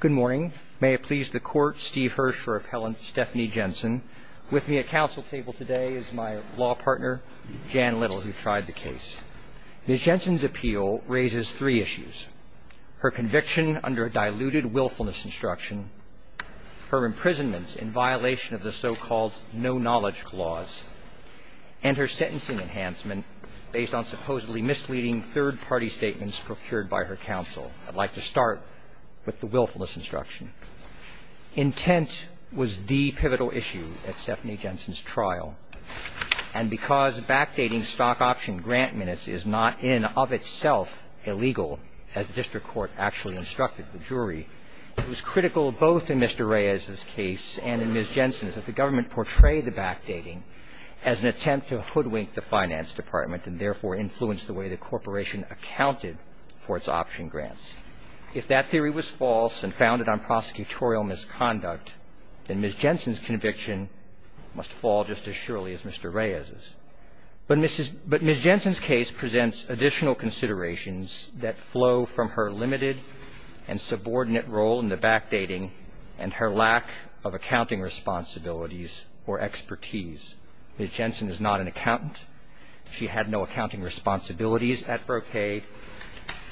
Good morning. May it please the Court, Steve Hirsch for Appellant Stephanie Jensen. With me at counsel table today is my law partner, Jan Little, who tried the case. Ms. Jensen's appeal raises three issues. Her conviction under a diluted willfulness instruction, her imprisonment in violation of the so-called no-knowledge clause, and her sentencing enhancement based on supposedly misleading third-party statements procured by her counsel. I'd like to start with the willfulness instruction. Intent was the pivotal issue at Stephanie Jensen's trial. And because backdating stock option grant minutes is not in and of itself illegal, as the district court actually instructed the jury, it was critical both in Mr. Reyes's case and in Ms. Jensen's that the government portray the backdating as an attempt to hoodwink the finance department and therefore influence the way the corporation accounted for its option grants. If that theory was false and founded on prosecutorial misconduct, then Ms. Jensen's conviction must fall just as surely as Mr. Reyes's. But Ms. Jensen's case presents additional considerations that flow from her limited and subordinate role in the backdating and her lack of accounting responsibilities or expertise. Ms. Jensen is not an accountant. She had no accounting responsibilities at Brocade.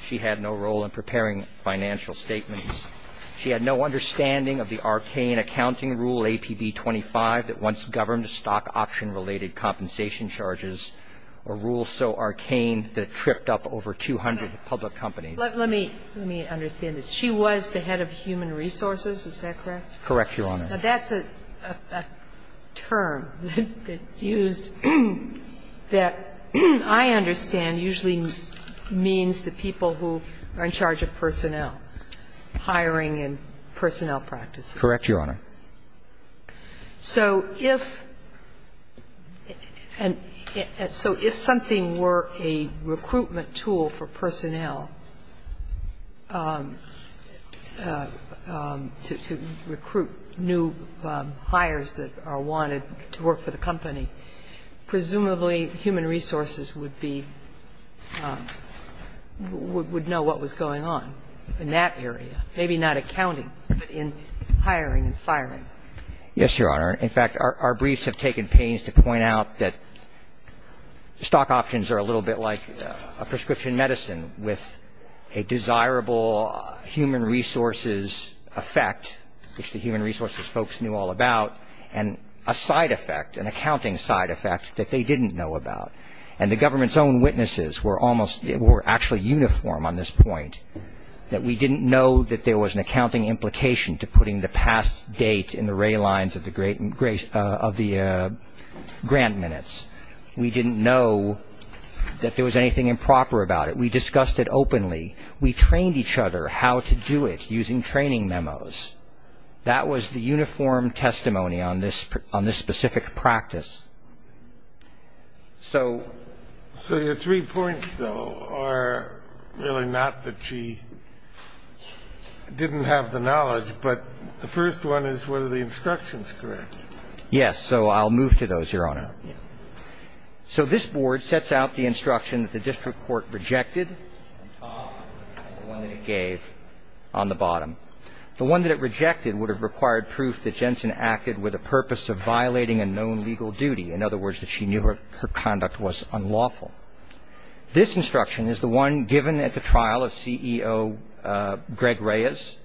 She had no role in preparing financial statements. She had no understanding of the arcane accounting rule, APB 25, that once governed stock option-related compensation charges, a rule so arcane that it tripped up over 200 public companies. Let me understand this. She was the head of human resources, is that correct? Correct, Your Honor. Now, that's a term that's used that I understand usually means the people who are in charge of personnel, hiring and personnel practices. Correct, Your Honor. So if and so if something were a recruitment tool for personnel to recruit new employees, new hires that are wanted to work for the company, presumably human resources would be – would know what was going on in that area, maybe not accounting, but in hiring and firing. Yes, Your Honor. In fact, our briefs have taken pains to point out that stock options are a little bit like a prescription medicine with a desirable human resources effect, which the human resources folks knew all about, and a side effect, an accounting side effect that they didn't know about. And the government's own witnesses were almost – were actually uniform on this point, that we didn't know that there was an accounting implication to putting the past date in the ray lines of the grant minutes. We didn't know that there was anything improper about it. We discussed it openly. We trained each other how to do it using training memos. That was the uniform testimony on this specific practice. So – So your three points, though, are really not that she didn't have the knowledge, but the first one is whether the instruction is correct. Yes. So I'll move to those, Your Honor. Yes. So this Board sets out the instruction that the district court rejected, on top of the one that it gave on the bottom. The one that it rejected would have required proof that Jensen acted with a purpose of violating a known legal duty, in other words, that she knew her conduct was unlawful. This instruction is the one given at the trial of CEO Greg Reyes.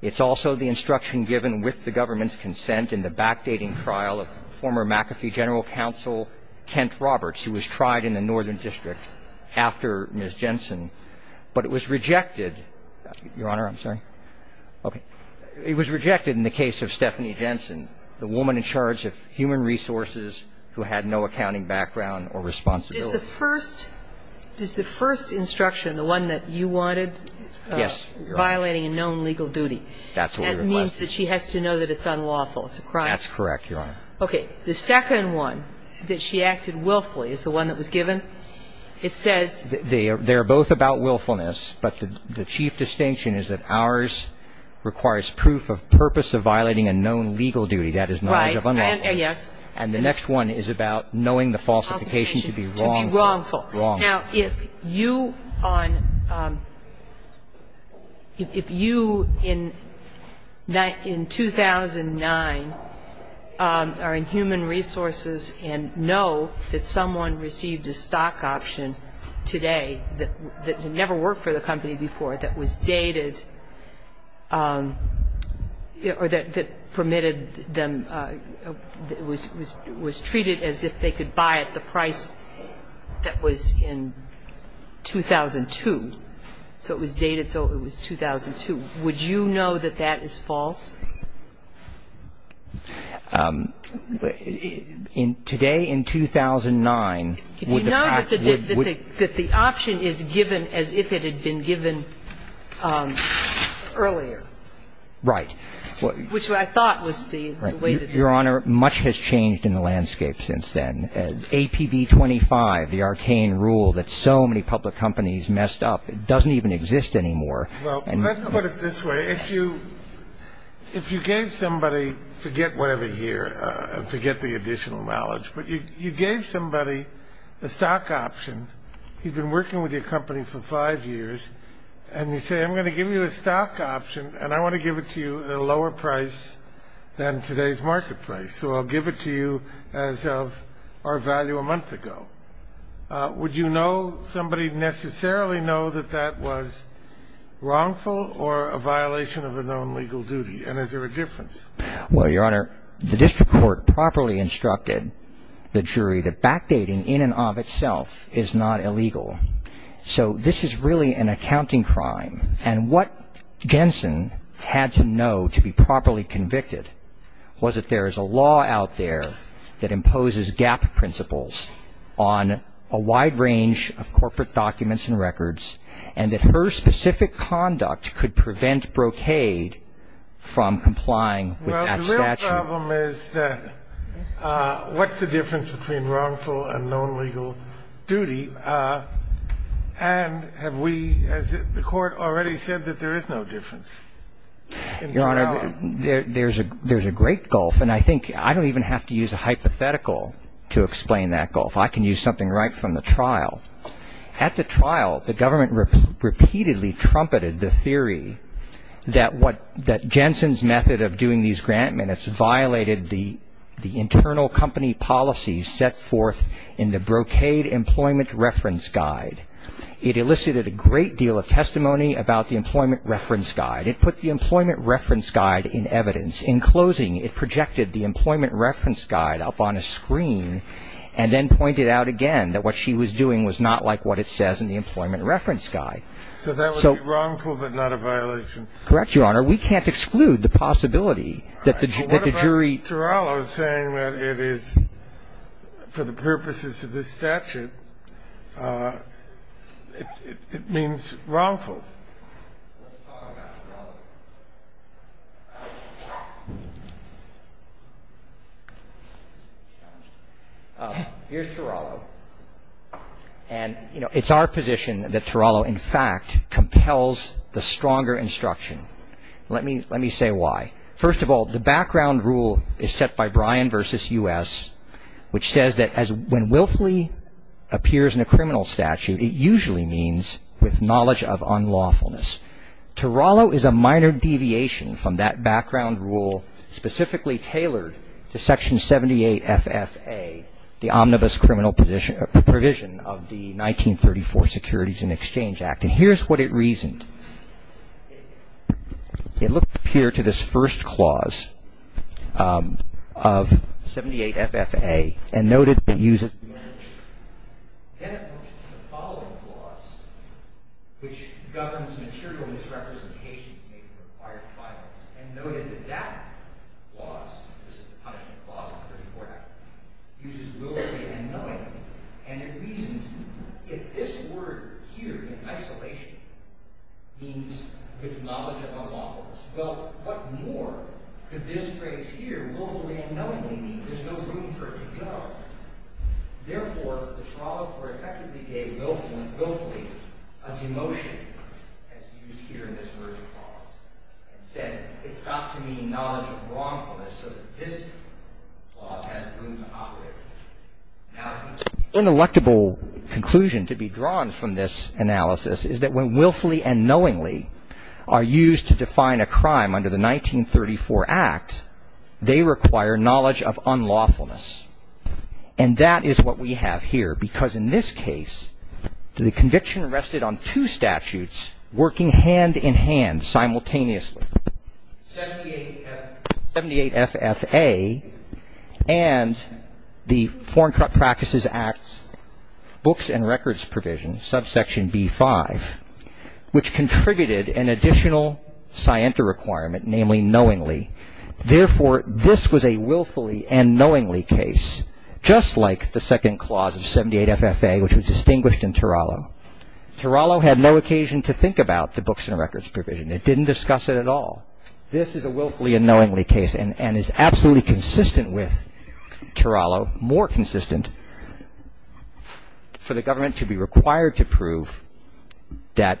It's also the instruction given with the government's consent in the backdating trial of former McAfee general counsel Kent Roberts, who was tried in the northern district after Ms. Jensen. But it was rejected. Your Honor, I'm sorry. Okay. It was rejected in the case of Stephanie Jensen, the woman in charge of human resources who had no accounting background or responsibility. Is the first – is the first instruction, the one that you wanted? Yes, Your Honor. Violating a known legal duty. That's what we requested. That means that she has to know that it's unlawful. It's a crime. That's correct, Your Honor. Okay. The second one, that she acted willfully, is the one that was given. It says – They are both about willfulness, but the chief distinction is that ours requires proof of purpose of violating a known legal duty. That is knowledge of unlawfulness. Right. Yes. And the next one is about knowing the falsification to be wrongful. To be wrongful. Wrongful. Now, if you on – if you in 2009 are in human resources and know that someone received a stock option today that had never worked for the company before, that was dated or that permitted them – was treated as if they could buy it, that was in 2002. So it was dated so it was 2002. Would you know that that is false? In – today in 2009, would the – Did you know that the option is given as if it had been given earlier? Which I thought was the way that it's – Your Honor, much has changed in the landscape since then. APB 25, the arcane rule that so many public companies messed up, it doesn't even exist anymore. Well, let's put it this way. If you gave somebody – forget whatever year, forget the additional knowledge, but you gave somebody a stock option, you've been working with your company for five years, and you say I'm going to give you a stock option and I want to give it to you at a lower price than today's market price. So I'll give it to you as of our value a month ago. Would you know – somebody necessarily know that that was wrongful or a violation of a known legal duty? And is there a difference? Well, Your Honor, the district court properly instructed the jury that backdating in and of itself is not illegal. So this is really an accounting crime. And what Jensen had to know to be properly convicted was that there is a law out there that imposes gap principles on a wide range of corporate documents and records and that her specific conduct could prevent brocade from complying with that statute. Well, the real problem is that what's the difference between wrongful and known legal duty? And have we – has the court already said that there is no difference? Your Honor, there's a great gulf, and I think I don't even have to use a hypothetical to explain that gulf. I can use something right from the trial. At the trial, the government repeatedly trumpeted the theory that Jensen's method of doing these grant minutes violated the internal company policies set forth in the Brocade Employment Reference Guide. It elicited a great deal of testimony about the Employment Reference Guide. It put the Employment Reference Guide in evidence. In closing, it projected the Employment Reference Guide up on a screen and then pointed out again that what she was doing was not like what it says in the Employment Reference Guide. So that would be wrongful but not a violation? Correct, Your Honor. We can't exclude the possibility that the jury – for the purposes of this statute, it means wrongful. Let's talk about Turalo. Here's Turalo. And, you know, it's our position that Turalo, in fact, compels the stronger instruction. Let me say why. First of all, the background rule is set by Bryan v. U.S., which says that when willfully appears in a criminal statute, it usually means with knowledge of unlawfulness. Turalo is a minor deviation from that background rule specifically tailored to Section 78 FFA, the omnibus criminal provision of the 1934 Securities and Exchange Act. And here's what it reasoned. It looked up here to this first clause of 78 FFA and noted the use of knowledge. Then it looked to the following clause, which governs material misrepresentation in a required filings, and noted that that clause, the punishment clause of the 34th Act, uses willfully and knowingly. And it reasons if this word here in isolation means with knowledge of unlawfulness, well, what more could this phrase here, willfully and knowingly, mean? There's no room for it to go. Therefore, Turalo effectively gave willfully a demotion, as used here in this version of the clause, and said it's got to mean knowledge of wrongfulness so that this clause has room to operate. Now, an ineluctable conclusion to be drawn from this analysis is that when willfully and knowingly are used to define a crime under the 1934 Act, they require knowledge of unlawfulness. And that is what we have here, because in this case the conviction rested on two statutes working hand in hand simultaneously, 78 FFA and the Foreign Practices Act Books and Records Provision, subsection B5, which contributed an additional scienta requirement, namely knowingly. Therefore, this was a willfully and knowingly case, just like the second clause of 78 FFA, which was distinguished in Turalo. Turalo had no occasion to think about the Books and Records Provision. It didn't discuss it at all. This is a willfully and knowingly case and is absolutely consistent with Turalo, more consistent for the government to be required to prove that,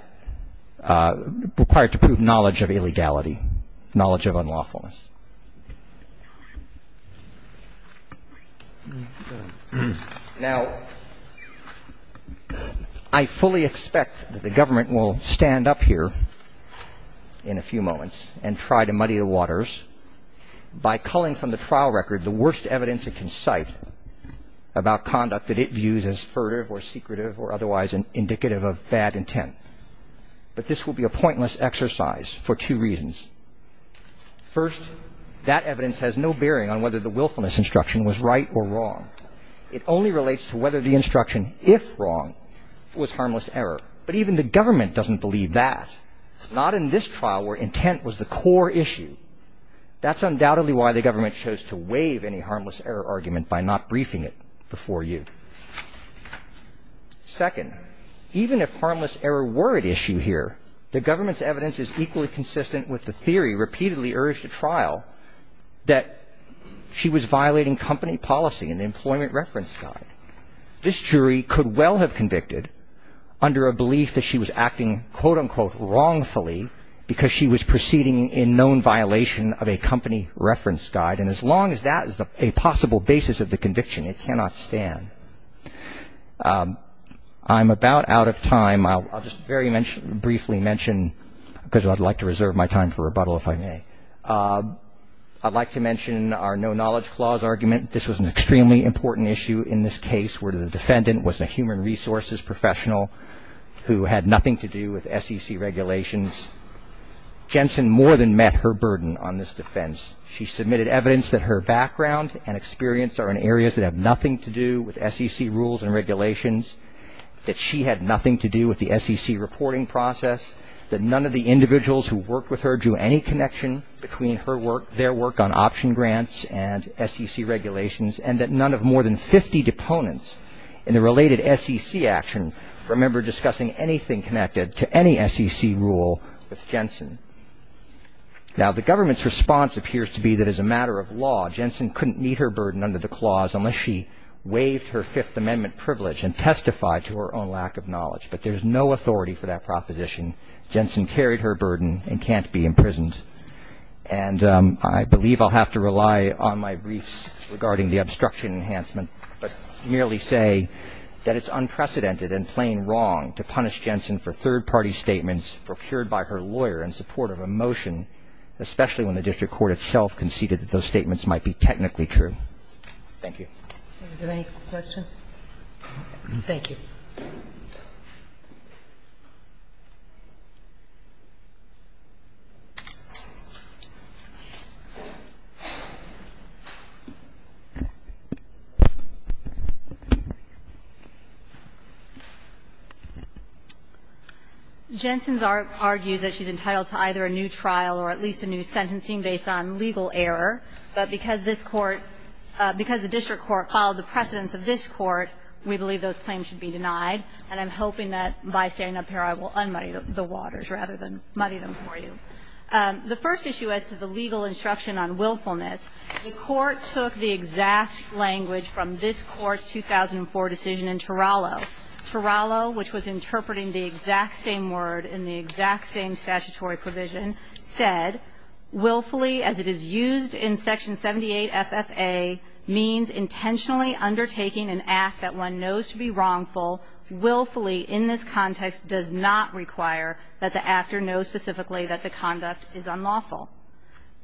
required to prove knowledge of illegality, knowledge of unlawfulness. Now, I fully expect that the government will stand up here in a few moments and try to muddy the waters by culling from the trial record the worst evidence it can cite about conduct that it views as furtive or secretive or otherwise indicative of bad intent. But this will be a pointless exercise for two reasons. First, that evidence has no bearing on whether the willfulness instruction was right or wrong. It only relates to whether the instruction, if wrong, was harmless error. But even the government doesn't believe that, not in this trial where intent was the core issue. That's undoubtedly why the government chose to waive any harmless error argument by not briefing it before you. Second, even if harmless error were at issue here, the government's evidence is equally consistent with the theory repeatedly urged at trial that she was violating company policy and employment reference guide. This jury could well have convicted under a belief that she was acting, quote, unquote, wrongfully because she was proceeding in known violation of a company reference guide. And as long as that is a possible basis of the conviction, it cannot stand. I'm about out of time. I'll just very briefly mention, because I'd like to reserve my time for rebuttal if I may, I'd like to mention our no knowledge clause argument. This was an extremely important issue in this case where the defendant was a human resources professional who had nothing to do with SEC regulations. Jensen more than met her burden on this defense. She submitted evidence that her background and experience are in areas that have nothing to do with SEC rules and regulations, that she had nothing to do with the SEC reporting process, that none of the individuals who worked with her drew any connection between her work, their work on option grants and SEC regulations, and that none of more than 50 deponents in the related SEC action remember discussing anything connected to any SEC rule with Jensen. Now, the government's response appears to be that as a matter of law, Jensen couldn't meet her burden under the clause unless she waived her Fifth Amendment privilege and testified to her own lack of knowledge. But there's no authority for that proposition. Jensen carried her burden and can't be imprisoned. And I believe I'll have to rely on my briefs regarding the obstruction enhancement, but merely say that it's unprecedented and plain wrong to punish Jensen for third-party statements procured by her lawyer in support of a motion, especially when the district court itself conceded that those statements might be technically true. Thank you. Are there any questions? Thank you. Jensen argues that she's entitled to either a new trial or at least a new sentencing based on legal error, but because this Court, because the district court filed the precedence of this Court, we believe those claims should be denied. And I'm hoping that by standing up here I will un-muddy the waters rather than muddy them for you. The first issue as to the legal instruction on willfulness, the Court took the exact language from this Court's 2004 decision in Turalo. Turalo, which was interpreting the exact same word in the exact same statutory provision, said,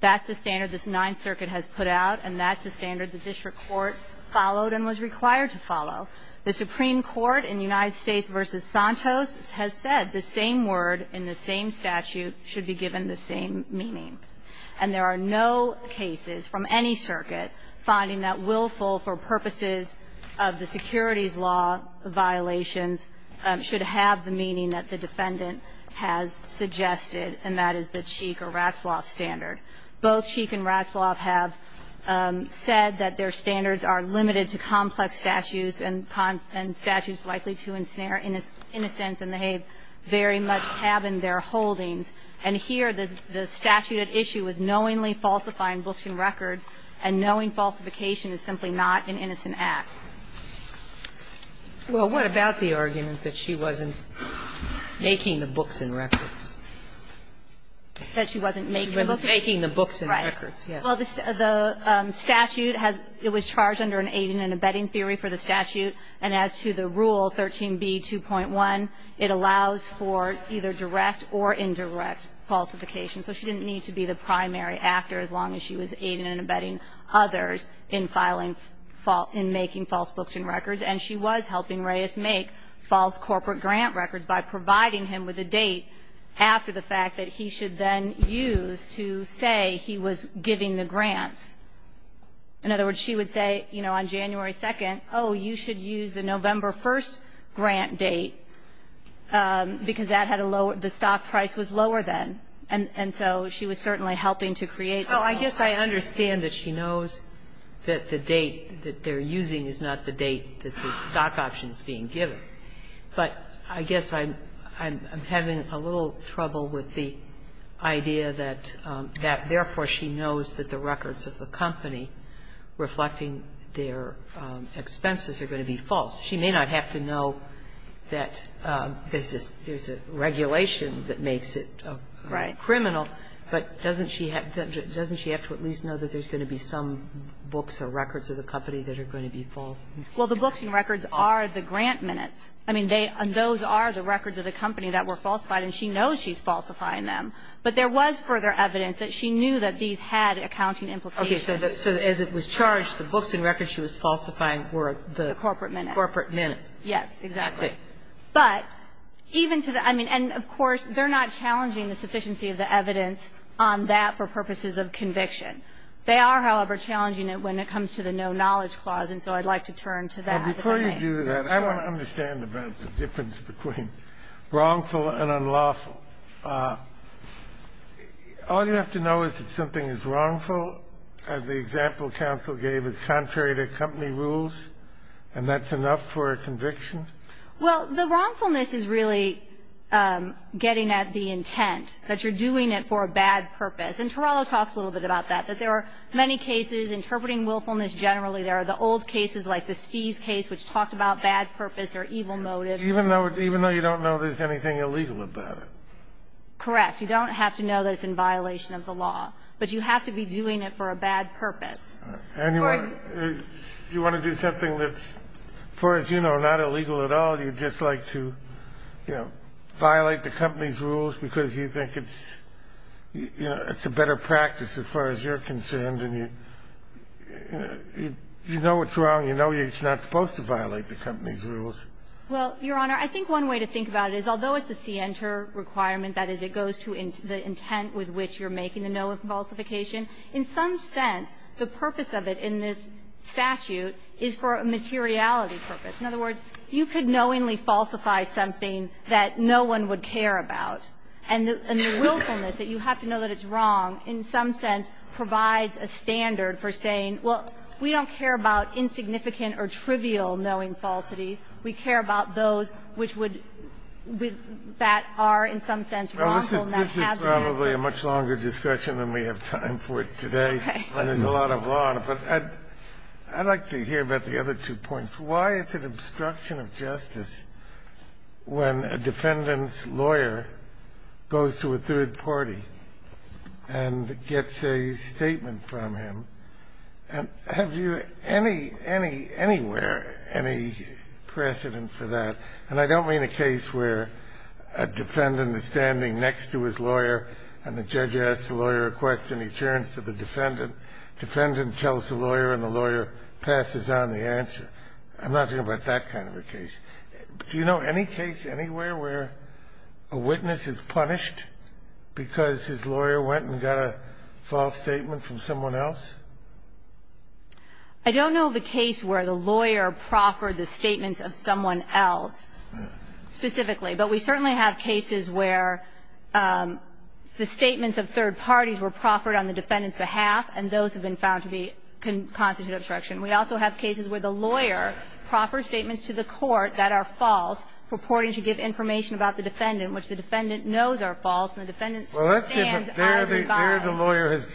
That's the standard this Ninth Circuit has put out, and that's the standard the district court followed and was required to follow. The Supreme Court in United States v. Santos has said the same word in the same statute should be given the same meaning. And there are no cases from any circuit finding that willful for purposes of the securities law violations should have the meaning that the defendant has suggested, and that is the Sheik or Ratzlaff standard. Both Sheik and Ratzlaff have said that their standards are limited to complex statutes and statutes likely to ensnare innocents, and they very much have in their holdings. And here the statute at issue is knowingly falsifying books and records, and knowing falsification is simply not an innocent act. Well, what about the argument that she wasn't making the books and records? That she wasn't making the books? She wasn't making the books and records. Right. Well, the statute was charged under an aiding and abetting theory for the statute, and as to the rule 13b.2.1, it allows for either direct or indirect falsification. So she didn't need to be the primary actor as long as she was aiding and abetting others in making false books and records. And she was helping Reyes make false corporate grant records by providing him with a date after the fact that he should then use to say he was giving the grants. In other words, she would say, you know, on January 2nd, oh, you should use the November 1st grant date, because that had a lower the stock price was lower then. And so she was certainly helping to create false corporate grants. Oh, I guess I understand that she knows that the date that they're using is not the date that the stock option is being given. But I guess I'm having a little trouble with the idea that therefore she knows that the records of the company reflecting their expenses are going to be false. She may not have to know that there's a regulation that makes it criminal, but doesn't she have to at least know that there's going to be some books or records of the company that are going to be false? Well, the books and records are the grant minutes. I mean, those are the records of the company that were falsified, and she knows she's falsifying them. But there was further evidence that she knew that these had accounting implications. Okay. So as it was charged, the books and records she was falsifying were the corporate minutes. Corporate minutes. Yes, exactly. But even to the end, of course, they're not challenging the sufficiency of the evidence on that for purposes of conviction. They are, however, challenging it when it comes to the no knowledge clause, and so I'd like to turn to that. Before you do that, I want to understand about the difference between wrongful and unlawful. All you have to know is that something is wrongful. The example counsel gave is contrary to company rules, and that's enough for a conviction? Well, the wrongfulness is really getting at the intent, that you're doing it for a bad purpose. And Torello talks a little bit about that, that there are many cases interpreting willfulness generally. There are the old cases like the Spies case, which talked about bad purpose or evil motives. Even though you don't know there's anything illegal about it? Correct. You don't have to know that it's in violation of the law, but you have to be doing it for a bad purpose. And you want to do something that's, as far as you know, not illegal at all. You just like to, you know, violate the company's rules because you think it's a better practice, as far as you're concerned, and you know it's wrong, you know it's not supposed to violate the company's rules. Well, Your Honor, I think one way to think about it is, although it's a scienter requirement, that is, it goes to the intent with which you're making the no falsification, in some sense, the purpose of it in this statute is for a materiality purpose. In other words, you could knowingly falsify something that no one would care about. And the willfulness that you have to know that it's wrong, in some sense, provides a standard for saying, well, we don't care about insignificant or trivial knowing falsities. We care about those which would be that are, in some sense, wrongful and that have been wrongful. This is probably a much longer discussion than we have time for today. Okay. And there's a lot of law on it. But I'd like to hear about the other two points. Why is it obstruction of justice when a defendant's lawyer goes to a third party and gets a statement from him? Have you anywhere any precedent for that? And I don't mean a case where a defendant is standing next to his lawyer and the judge asks the lawyer a question. He turns to the defendant. I'm not talking about that kind of a case. Do you know any case anywhere where a witness is punished because his lawyer went and got a false statement from someone else? I don't know of a case where the lawyer proffered the statements of someone else specifically. But we certainly have cases where the statements of third parties were proffered on the defendant's behalf, and those have been found to be constitutive obstruction. We also have cases where the lawyer proffers statements to the court that are false, purporting to give information about the defendant, which the defendant knows are false, and the defendant stands out of regard. Well, that's different. There the lawyer has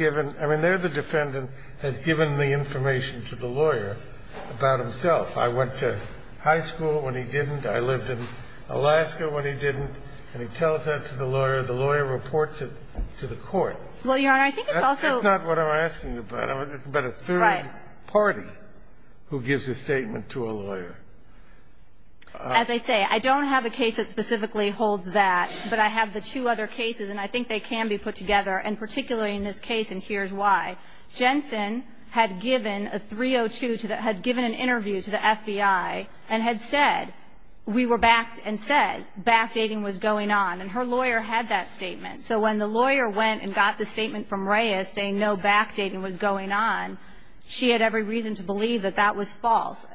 given the information to the lawyer about himself. I went to high school when he didn't. I lived in Alaska when he didn't. And he tells that to the lawyer. The lawyer reports it to the court. Well, Your Honor, I think it's also That's not what I'm asking about. I'm asking about a third party. Who gives a statement to a lawyer? As I say, I don't have a case that specifically holds that. But I have the two other cases, and I think they can be put together, and particularly in this case, and here's why. Jensen had given a 302 to the had given an interview to the FBI and had said we were backed and said backdating was going on. And her lawyer had that statement. So when the lawyer went and got the statement from Reyes saying no backdating was going on, she had every reason to believe that that was false.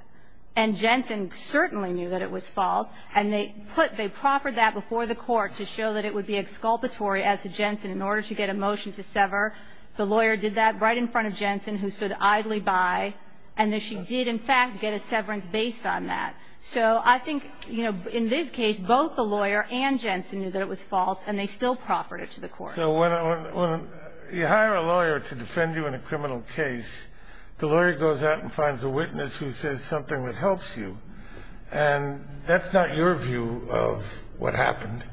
And Jensen certainly knew that it was false. And they put they proffered that before the court to show that it would be exculpatory as to Jensen in order to get a motion to sever. The lawyer did that right in front of Jensen, who stood idly by. And she did, in fact, get a severance based on that. So I think, you know, in this case, both the lawyer and Jensen knew that it was false, and they still proffered it to the court. So when you hire a lawyer to defend you in a criminal case, the lawyer goes out and finds a witness who says something that helps you. And that's not your view of what happened.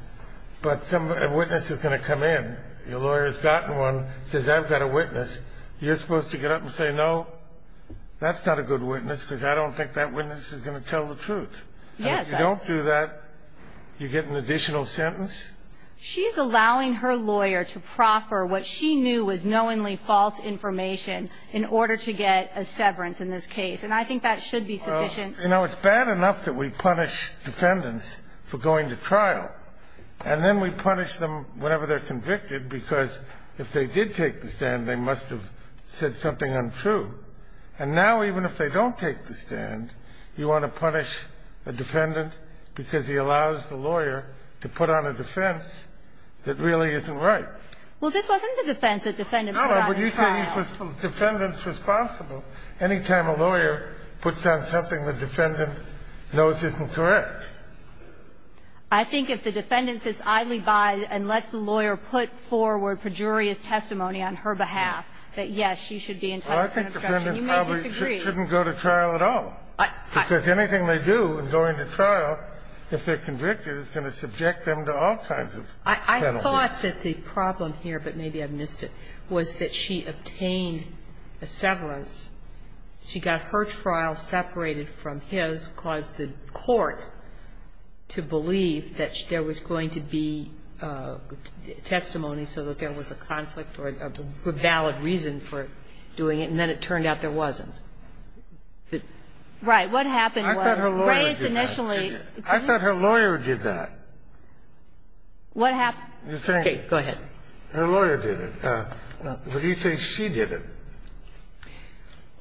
But a witness is going to come in, your lawyer's gotten one, says I've got a witness, you're supposed to get up and say no, that's not a good witness because I don't think that witness is going to tell the truth. And if you don't do that, you get an additional sentence? She's allowing her lawyer to proffer what she knew was knowingly false information in order to get a severance in this case. And I think that should be sufficient. You know, it's bad enough that we punish defendants for going to trial, and then we punish them whenever they're convicted because if they did take the stand, they must have said something untrue. And now, even if they don't take the stand, you want to punish a defendant because he allows the lawyer to put on a defense that really isn't right. Well, this wasn't the defense that the defendant put on the trial. No, but you say the defendant's responsible. Any time a lawyer puts on something the defendant knows isn't correct. I think if the defendant sits idly by and lets the lawyer put forward pejorious testimony on her behalf, that, yes, she should be entitled to an obstruction. You may disagree. Well, I think the defendant probably shouldn't go to trial at all. Because anything they do in going to trial, if they're convicted, is going to subject them to all kinds of penalties. I thought that the problem here, but maybe I missed it, was that she obtained a severance. She got her trial separated from his because the court, to believe that there was going to be testimony so that there was a conflict or a valid reason for doing it, and then it turned out there wasn't. Right. What happened was Reyes initially ---- I thought her lawyer did that. What happened? Okay. Go ahead. Her lawyer did it. But you say she did it.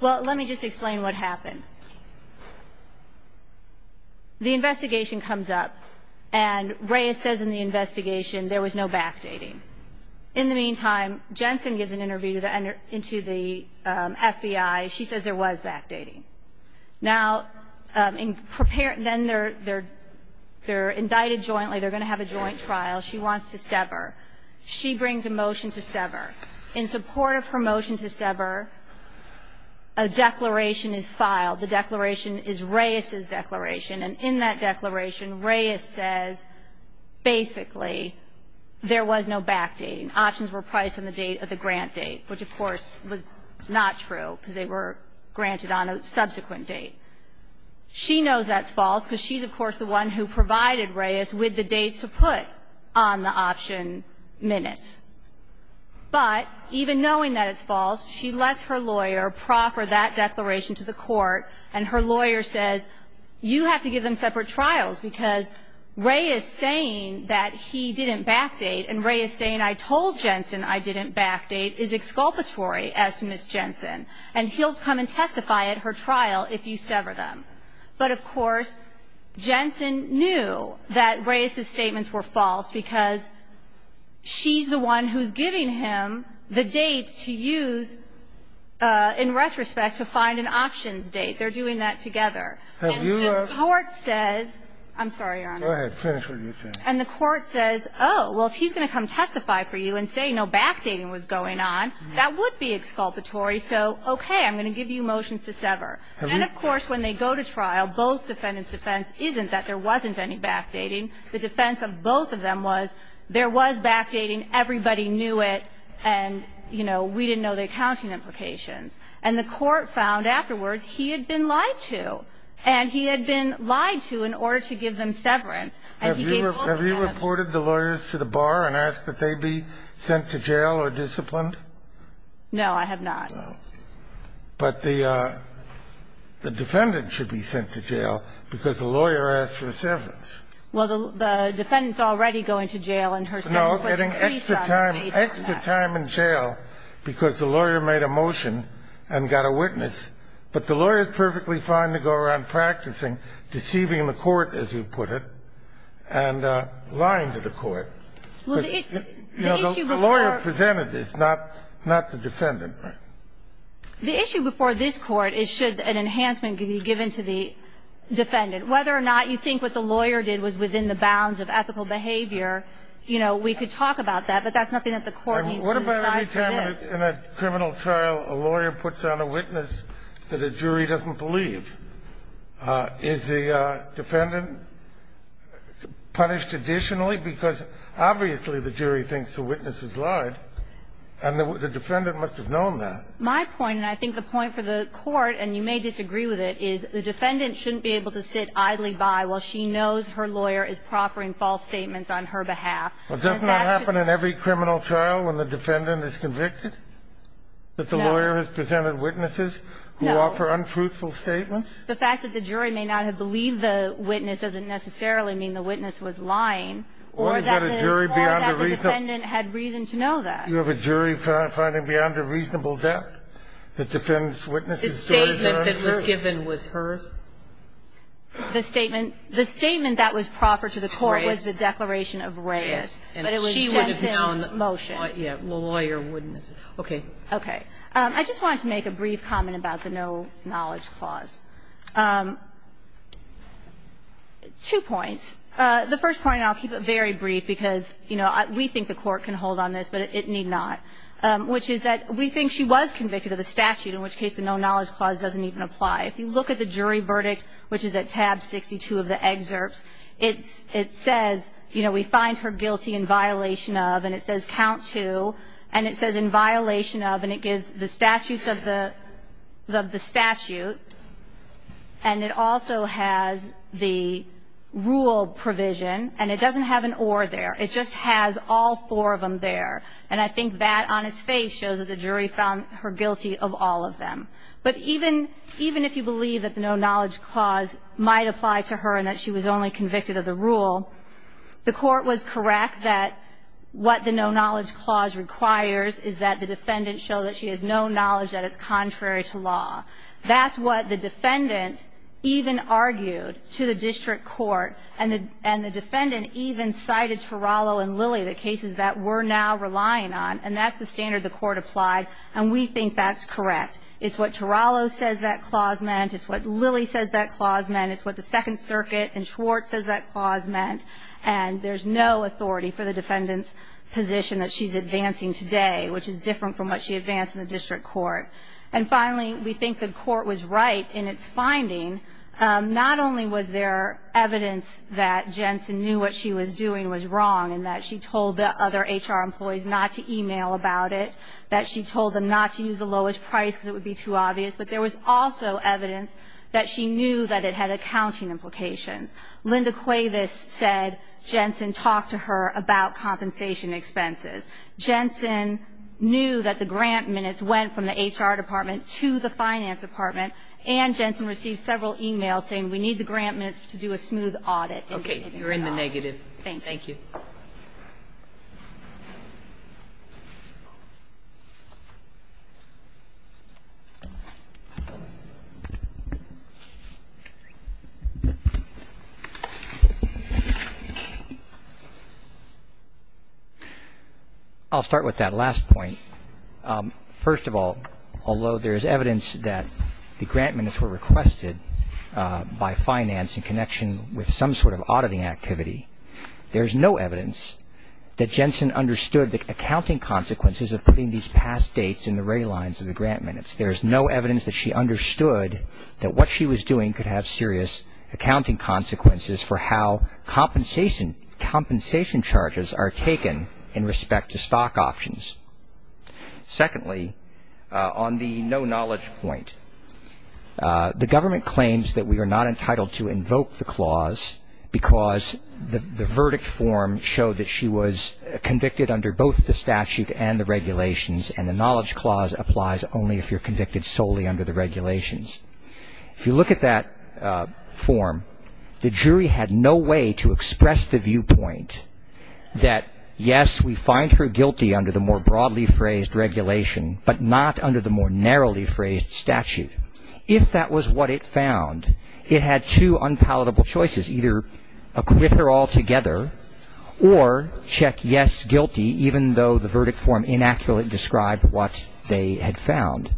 Well, let me just explain what happened. The investigation comes up, and Reyes says in the investigation there was no backdating. In the meantime, Jensen gives an interview to the FBI. She says there was backdating. Now, then they're indicted jointly. They're going to have a joint trial. She wants to sever. She brings a motion to sever. In support of her motion to sever, a declaration is filed. The declaration is Reyes's declaration. And in that declaration, Reyes says basically there was no backdating. Options were priced on the date of the grant date, which, of course, was not true because they were granted on a subsequent date. She knows that's false because she's, of course, the one who provided Reyes with the dates to put on the option minutes. But even knowing that it's false, she lets her lawyer proffer that declaration to the court, and her lawyer says you have to give them separate trials because Reyes saying that he didn't backdate and Reyes saying I told Jensen I didn't backdate is exculpatory as to Ms. Jensen. And he'll come and testify at her trial if you sever them. But, of course, Jensen knew that Reyes's statements were false because she's the one who's giving him the date to use in retrospect to find an options date. They're doing that together. And the court says — I'm sorry, Your Honor. Go ahead. Finish what you're saying. And the court says, oh, well, if he's going to come testify for you and say no backdating was going on, that would be exculpatory. So, okay, I'm going to give you motions to sever. And, of course, when they go to trial, both defendants' defense isn't that there wasn't any backdating. The defense of both of them was there was backdating, everybody knew it, and, you know, we didn't know the accounting implications. And the court found afterwards he had been lied to, and he had been lied to in order to give them severance. And he gave both of them. Have you reported the lawyers to the bar and asked that they be sent to jail or disciplined? No, I have not. No. But the defendant should be sent to jail because the lawyer asked for the severance. Well, the defendant's already going to jail and her severance was increased on the basis of that. No, getting extra time in jail because the lawyer made a motion and got a witness. But the lawyer is perfectly fine to go around practicing deceiving the court, as you put it. And lying to the court. Well, the issue before The lawyer presented this, not the defendant. The issue before this Court is should an enhancement be given to the defendant. Whether or not you think what the lawyer did was within the bounds of ethical behavior, you know, we could talk about that. But that's nothing that the Court needs to decide for this. What about every time in a criminal trial a lawyer puts on a witness that a jury doesn't believe? Is the defendant punished additionally? Because obviously the jury thinks the witness is lied, and the defendant must have known that. My point, and I think the point for the Court, and you may disagree with it, is the defendant shouldn't be able to sit idly by while she knows her lawyer is proffering false statements on her behalf. Well, doesn't that happen in every criminal trial when the defendant is convicted? No. That the lawyer has presented witnesses who offer unfruitful statements? The fact that the jury may not have believed the witness doesn't necessarily mean the witness was lying. Or that the defendant had reason to know that. You have a jury finding beyond a reasonable depth that defends witnesses to what is earned? The statement that was given was hers? The statement that was proffered to the Court was the declaration of Reyes. But it was Jensen's motion. Okay. Okay. I just wanted to make a brief comment about the no-knowledge clause. Two points. The first point, and I'll keep it very brief, because, you know, we think the Court can hold on this, but it need not. Which is that we think she was convicted of the statute, in which case the no-knowledge clause doesn't even apply. If you look at the jury verdict, which is at tab 62 of the excerpts, it says, you know, we find her guilty in violation of, and it says count to, and it says in violation of, and it gives the statutes of the statute. And it also has the rule provision, and it doesn't have an or there. It just has all four of them there. And I think that on its face shows that the jury found her guilty of all of them. But even if you believe that the no-knowledge clause might apply to her and that she was only convicted of the rule, the Court was correct that what the no-knowledge clause requires is that the defendant show that she has no knowledge that it's contrary to law. That's what the defendant even argued to the district court, and the defendant even cited Turalo and Lilly, the cases that we're now relying on, and that's the standard the Court applied. And we think that's correct. It's what Turalo says that clause meant. It's what Lilly says that clause meant. It's what the Second Circuit and Schwartz says that clause meant. And there's no authority for the defendant's position that she's advancing today, which is different from what she advanced in the district court. And finally, we think the Court was right in its finding. Not only was there evidence that Jensen knew what she was doing was wrong and that she told the other HR employees not to e-mail about it, that she told them not to use the lowest price because it would be too obvious, but there was also evidence that she knew that it had accounting implications. Linda Cuevas said Jensen talked to her about compensation expenses. Jensen knew that the grant minutes went from the HR department to the finance department, and Jensen received several e-mails saying we need the grant minutes to do a smooth audit. Kagan in the negative. Thank you. I'll start with that last point. First of all, although there's evidence that the grant minutes were requested by finance in connection with some sort of auditing activity, there's no evidence that Jensen understood the accounting consequences of putting these past dates in the ray lines of the grant minutes. There's no evidence that she understood that what she was doing could have serious accounting consequences for how compensation charges are taken in respect to stock options. Secondly, on the no knowledge point, the government claims that we are not entitled to invoke the clause because the verdict form showed that she was convicted under both the statute and the regulations, and the knowledge clause applies only if you're convicted solely under the regulations. If you look at that form, the jury had no way to express the viewpoint that yes, we were convicted under the more broadly phrased regulation, but not under the more narrowly phrased statute. If that was what it found, it had two unpalatable choices, either acquit her altogether or check yes, guilty, even though the verdict form inaccurately described what they had found.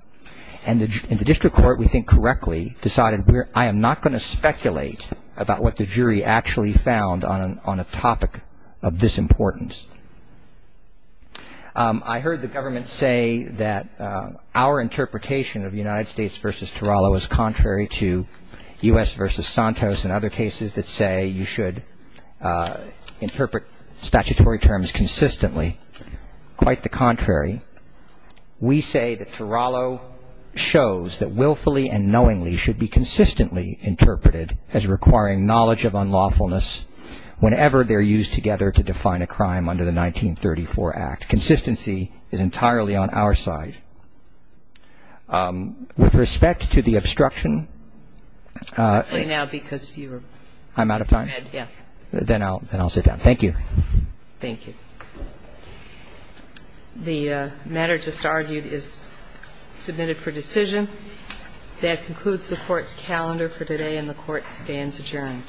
And the district court, we think correctly, decided I am not going to speculate about what the jury actually found on a topic of this importance. I heard the government say that our interpretation of United States versus Turalo is contrary to U.S. versus Santos and other cases that say you should interpret statutory terms consistently, quite the contrary. We say that Turalo shows that willfully and knowingly should be consistently interpreted as requiring knowledge of unlawfulness whenever they're used together to define a crime under the 1934 Act. Consistency is entirely on our side. With respect to the obstruction. I'm out of time? Then I'll sit down. Thank you. Thank you. The matter just argued is submitted for decision. That concludes the court's calendar for today, and the court stands adjourned. Thank you.